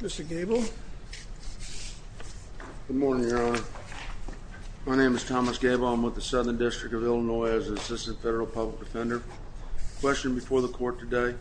Mr. Gable. Good morning, Your Honor. My name is Thomas Gable. I'm with the Southern District of Illinois as an Assistant Federal Public Defender. The question before the court today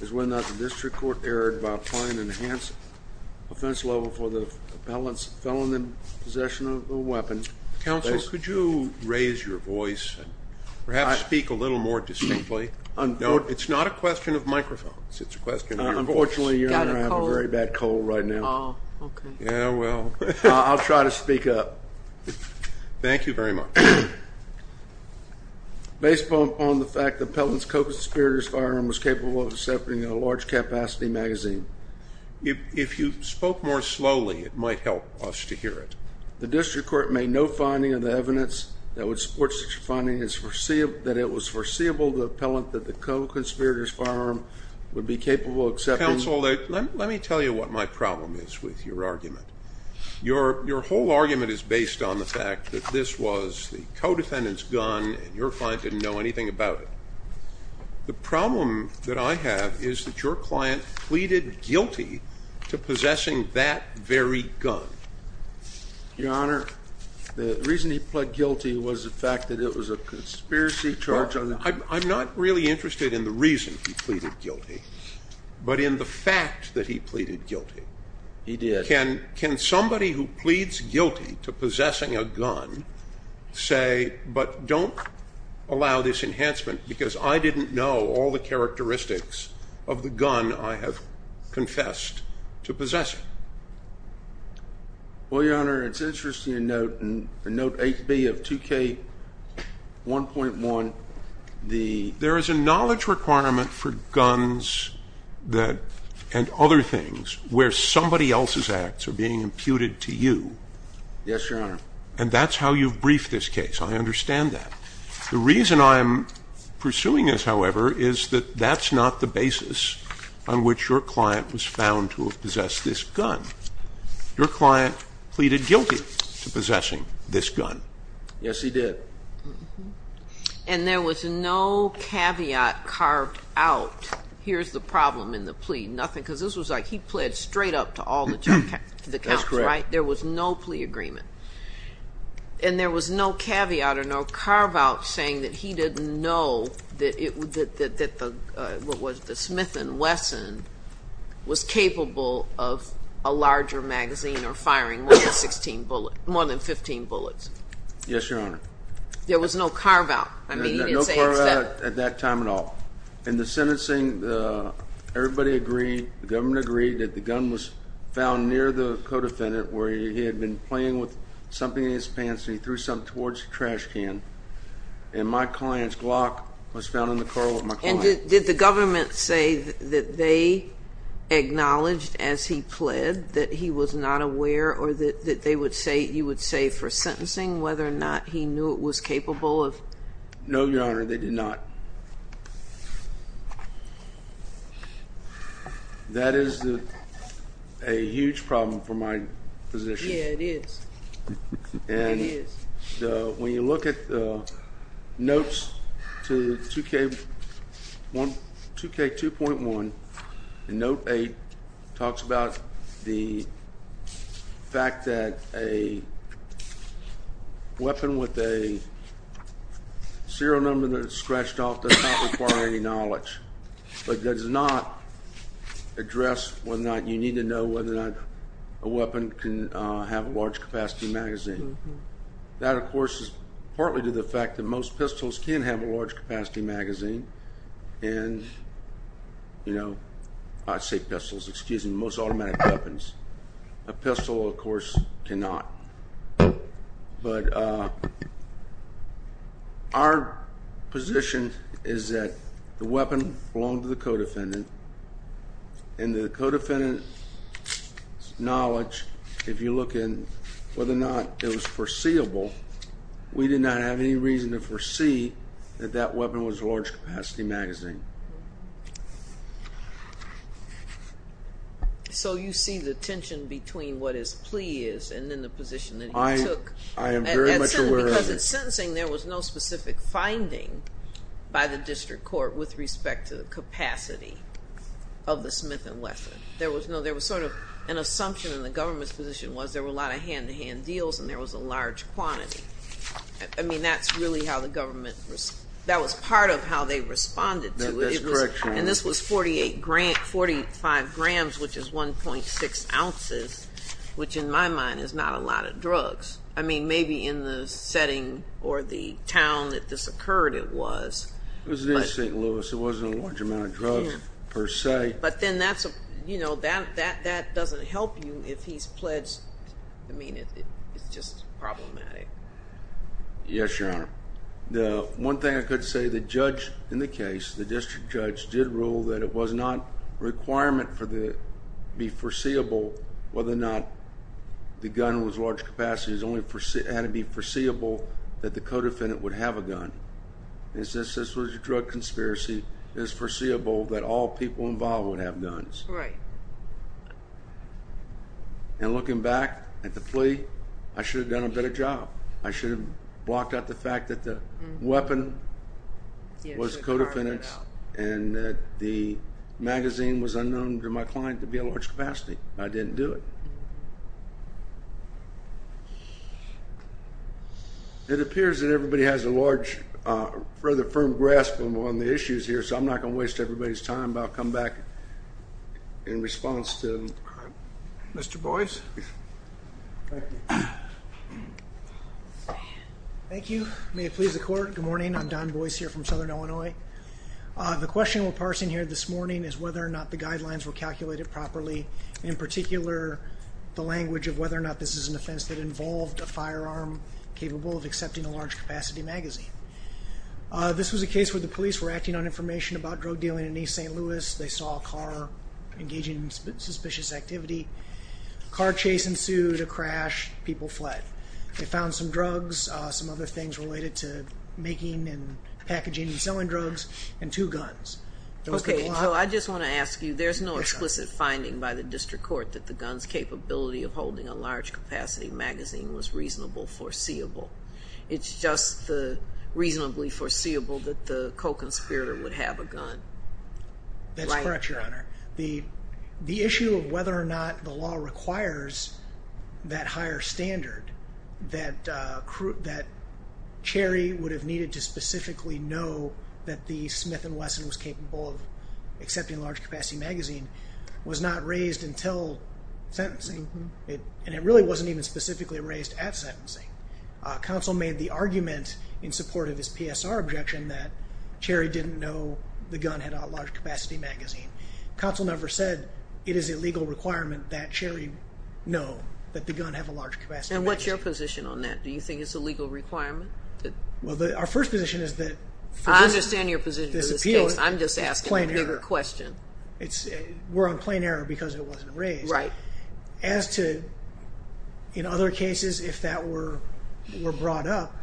is whether or not the district court erred by applying an enhanced offense level for the felon in possession of a weapon. Counsel, could you raise your voice and perhaps speak a little more distinctly? No, it's not a question of microphones. It's a question of your voice. Unfortunately, Your Honor, I have a very bad cold right now. I'll try to speak up. Thank you very much. Based upon the fact the felon's co-conspirator's firearm was capable of accepting a large-capacity magazine. If you spoke more slowly, it might help us to hear it. The district court made no finding of the evidence that would support such a finding that it was foreseeable to the appellant that the co-conspirator's firearm would be capable of accepting... Counsel, let me tell you what my problem is with your argument. Your whole argument is based on the fact that this was the co-defendant's gun and your client didn't know anything about it. The problem that I have is that your client pleaded guilty to possessing that very gun. Your Honor, the reason he pled guilty was the fact that it was a conspiracy charge... I'm not really interested in the reason he pleaded guilty, but in the fact that he pleaded guilty. He did. Can somebody who pleads guilty to possessing a gun say, but don't allow this enhancement because I didn't know all the characteristics of the gun I have confessed to possessing? Well, Your Honor, it's interesting to note in Note 8B of 2K1.1, the... Yes, Your Honor. And that's how you've briefed this case. I understand that. The reason I'm pursuing this, however, is that that's not the basis on which your client was found to have possessed this gun. Your client pleaded guilty to possessing this gun. Yes, he did. And there was no caveat carved out, here's the problem in the plea, nothing, because this was like he pled straight up to all the counts, right? That's correct. There was no plea agreement. And there was no caveat or no carve-out saying that he didn't know that the Smith & Wesson was capable of a larger magazine or firing more than 15 bullets. Yes, Your Honor. There was no carve-out. No carve-out at that time at all. And the sentencing, everybody agreed, the government agreed that the gun was found near the co-defendant where he had been playing with something in his pants and he threw something towards the trash can. And my client's Glock was found in the car with my client. And did the government say that they acknowledged as he pled that he was not aware or that they would say, you would say for sentencing whether or not he knew it was capable of... No, Your Honor, they did not. That is a huge problem for my position. Yeah, it is. And when you look at the notes to 2K2.1 and Note 8, it talks about the fact that a weapon with a serial number that is scratched off does not require any knowledge. But does not address whether or not you need to know whether or not a weapon can have a large capacity magazine. That, of course, is partly to the fact that most pistols can have a large capacity magazine. And, you know, I say pistols, excuse me, most automatic weapons. A pistol, of course, cannot. But our position is that the weapon belonged to the co-defendant. And the co-defendant's knowledge, if you look at whether or not it was foreseeable, we did not have any reason to foresee that that weapon was a large capacity magazine. So you see the tension between what his plea is and then the position that he took. I am very much aware of it. Because in sentencing there was no specific finding by the district court with respect to the capacity of the Smith & Wesson. There was sort of an assumption in the government's position was there were a lot of hand-to-hand deals and there was a large quantity. I mean, that's really how the government, that was part of how they responded to it. That's correct, Your Honor. And this was 48 grams, 45 grams, which is 1.6 ounces, which in my mind is not a lot of drugs. I mean, maybe in the setting or the town that this occurred it was. It was near St. Louis. There wasn't a large amount of drugs per se. But then that doesn't help you if he's pledged. I mean, it's just problematic. Yes, Your Honor. One thing I could say, the judge in the case, the district judge, did rule that it was not a requirement for it to be foreseeable whether or not the gun was large capacity. It had to be foreseeable that the co-defendant would have a gun. This was a drug conspiracy. It was foreseeable that all people involved would have guns. Right. And looking back at the plea, I should have done a better job. I should have blocked out the fact that the weapon was co-defendant's and that the magazine was unknown to my client to be a large capacity. I didn't do it. It appears that everybody has a large, rather firm grasp on the issues here, so I'm not going to waste everybody's time. But I'll come back in response to Mr. Boyce. Thank you. Thank you. May it please the Court. Good morning. I'm Don Boyce here from Southern Illinois. The question we're parsing here this morning is whether or not the guidelines were calculated properly. In particular, the language of whether or not this is an offense that involved a firearm capable of accepting a large capacity magazine. This was a case where the police were acting on information about drug dealing in East St. Louis. They saw a car engaging in suspicious activity. A car chase ensued, a crash, people fled. They found some drugs, some other things related to making and packaging and selling drugs, and two guns. Okay, so I just want to ask you, there's no explicit finding by the District Court that the gun's capability of holding a large capacity magazine was reasonable foreseeable. It's just reasonably foreseeable that the co-conspirator would have a gun. That's correct, Your Honor. The issue of whether or not the law requires that higher standard, that Cherry would have needed to specifically know that the Smith & Wesson was capable of accepting a large capacity magazine, was not raised until sentencing, and it really wasn't even specifically raised at sentencing. Counsel made the argument in support of his PSR objection that Cherry didn't know the gun had a large capacity magazine. Counsel never said it is a legal requirement that Cherry know that the gun have a large capacity magazine. And what's your position on that? Do you think it's a legal requirement? Well, our first position is that... I understand your position for this case. I'm just asking a bigger question. We're on plain error because it wasn't raised. Right. As to, in other cases, if that were brought up,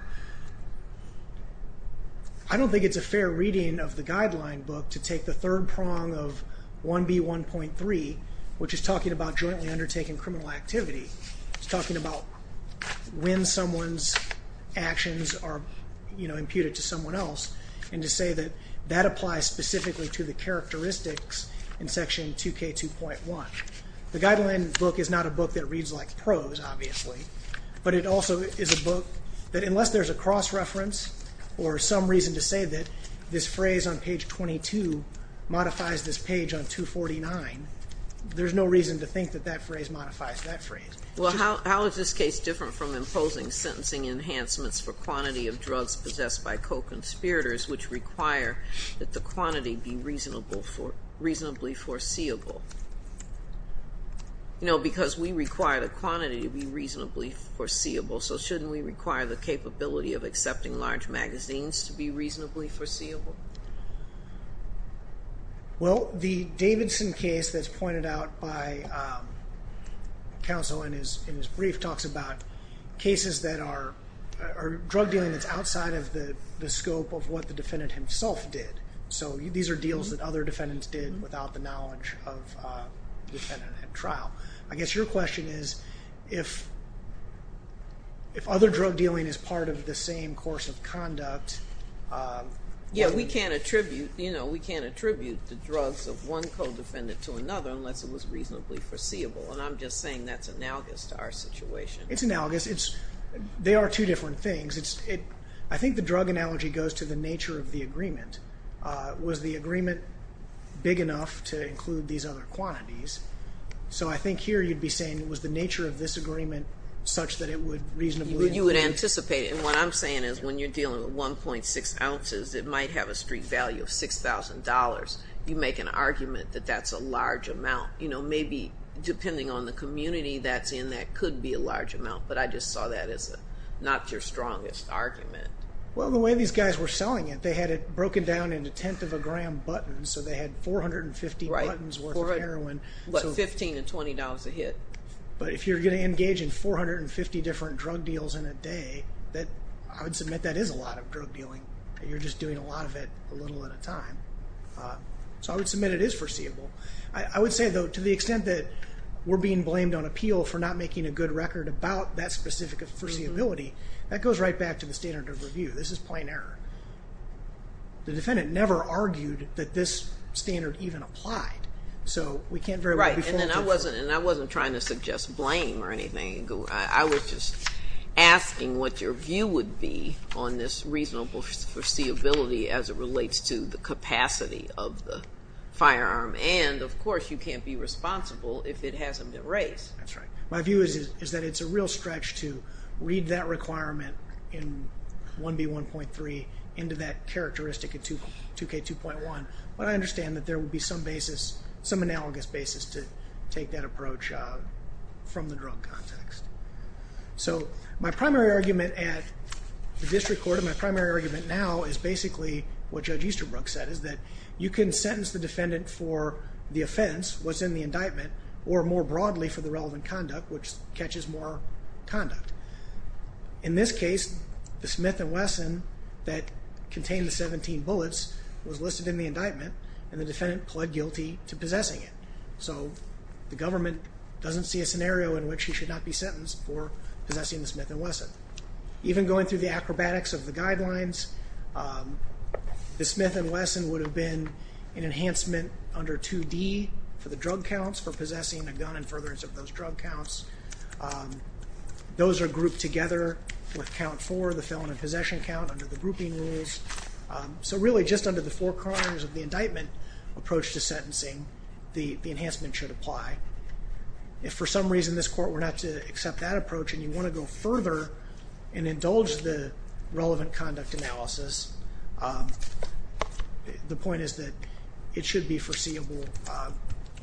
I don't think it's a fair reading of the guideline book to take the third prong of 1B1.3, which is talking about jointly undertaking criminal activity. It's talking about when someone's actions are, you know, imputed to someone else, and to say that that applies specifically to the characteristics in Section 2K2.1. The guideline book is not a book that reads like prose, obviously, but it also is a book that, unless there's a cross-reference or some reason to say that this phrase on page 22 modifies this page on 249, there's no reason to think that that phrase modifies that phrase. Well, how is this case different from imposing sentencing enhancements for quantity of drugs possessed by co-conspirators which require that the quantity be reasonably foreseeable? You know, because we require the quantity to be reasonably foreseeable, so shouldn't we require the capability of accepting large magazines to be reasonably foreseeable? Well, the Davidson case that's pointed out by counsel in his brief talks about cases that are drug dealing that's outside of the scope of what the defendant himself did. So these are deals that other defendants did without the knowledge of the defendant at trial. I guess your question is, if other drug dealing is part of the same course of conduct... Yeah, we can't attribute, you know, we can't attribute the drugs of one co-defendant to another unless it was reasonably foreseeable, and I'm just saying that's analogous to our situation. It's analogous. They are two different things. I think the drug analogy goes to the nature of the agreement. Was the agreement big enough to include these other quantities? So I think here you'd be saying, was the nature of this agreement such that it would reasonably... You would anticipate it, and what I'm saying is when you're dealing with 1.6 ounces, it might have a street value of $6,000. You make an argument that that's a large amount. You know, maybe depending on the community that's in, that could be a large amount, but I just saw that as not your strongest argument. Well, the way these guys were selling it, they had it broken down into tenth of a gram buttons, so they had 450 buttons worth of heroin. Right, but $15 and $20 a hit. But if you're going to engage in 450 different drug deals in a day, I would submit that is a lot of drug dealing. You're just doing a lot of it a little at a time. So I would submit it is foreseeable. I would say, though, to the extent that we're being blamed on appeal for not making a good record about that specific foreseeability, that goes right back to the standard of review. This is plain error. The defendant never argued that this standard even applied, so we can't very well be faulted for it. Right, and I wasn't trying to suggest blame or anything. I was just asking what your view would be on this reasonable foreseeability as it relates to the capacity of the firearm. And, of course, you can't be responsible if it hasn't been raised. That's right. My view is that it's a real stretch to read that requirement in 1B1.3 into that characteristic in 2K2.1, but I understand that there would be some basis, some analogous basis to take that approach from the drug context. So my primary argument at the district court, my primary argument now is basically what Judge Easterbrook said, is that you can sentence the defendant for the offense, what's in the indictment, or more broadly for the relevant conduct, which catches more conduct. In this case, the Smith & Wesson that contained the 17 bullets was listed in the indictment, and the defendant pled guilty to possessing it. So the government doesn't see a scenario in which he should not be sentenced for possessing the Smith & Wesson. Even going through the acrobatics of the guidelines, the Smith & Wesson would have been an enhancement under 2D for the drug counts for possessing a gun and furtherance of those drug counts. Those are grouped together with count 4, the felon in possession count, under the grouping rules. So really just under the four corners of the indictment approach to sentencing, the enhancement should apply. If for some reason this court were not to accept that approach and you want to go further and indulge the relevant conduct analysis, the point is that it should be foreseeable.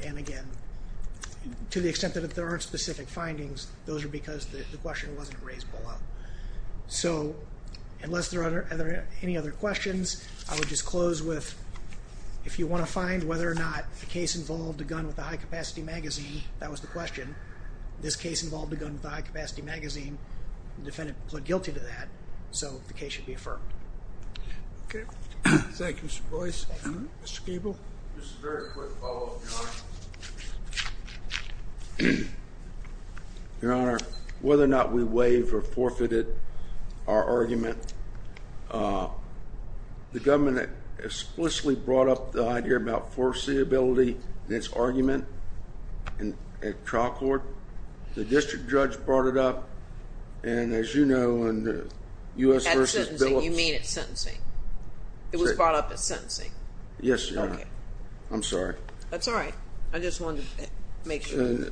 And again, to the extent that there aren't specific findings, those are because the question wasn't raised below. So unless there are any other questions, I would just close with if you want to find whether or not the case involved a gun with a high-capacity magazine, that was the question, this case involved a gun with a high-capacity magazine, the defendant pled guilty to that. So the case should be affirmed. Thank you, Mr. Boyce. Mr. Gabel. Just a very quick follow-up, Your Honor. Your Honor, whether or not we waive or forfeited our argument, the government explicitly brought up the idea about foreseeability in its argument at trial court. The district judge brought it up, and as you know, in U.S. v. Billups. At sentencing. You mean at sentencing. It was brought up at sentencing. Yes, Your Honor. I'm sorry. That's all right. I just wanted to make sure.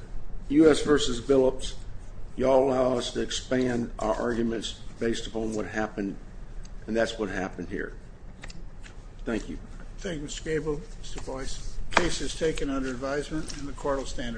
U.S. v. Billups, you all allow us to expand our arguments based upon what happened, and that's what happened here. Thank you. Thank you, Mr. Gabel. Mr. Boyce. The case is taken under advisement and the court will stand at recess.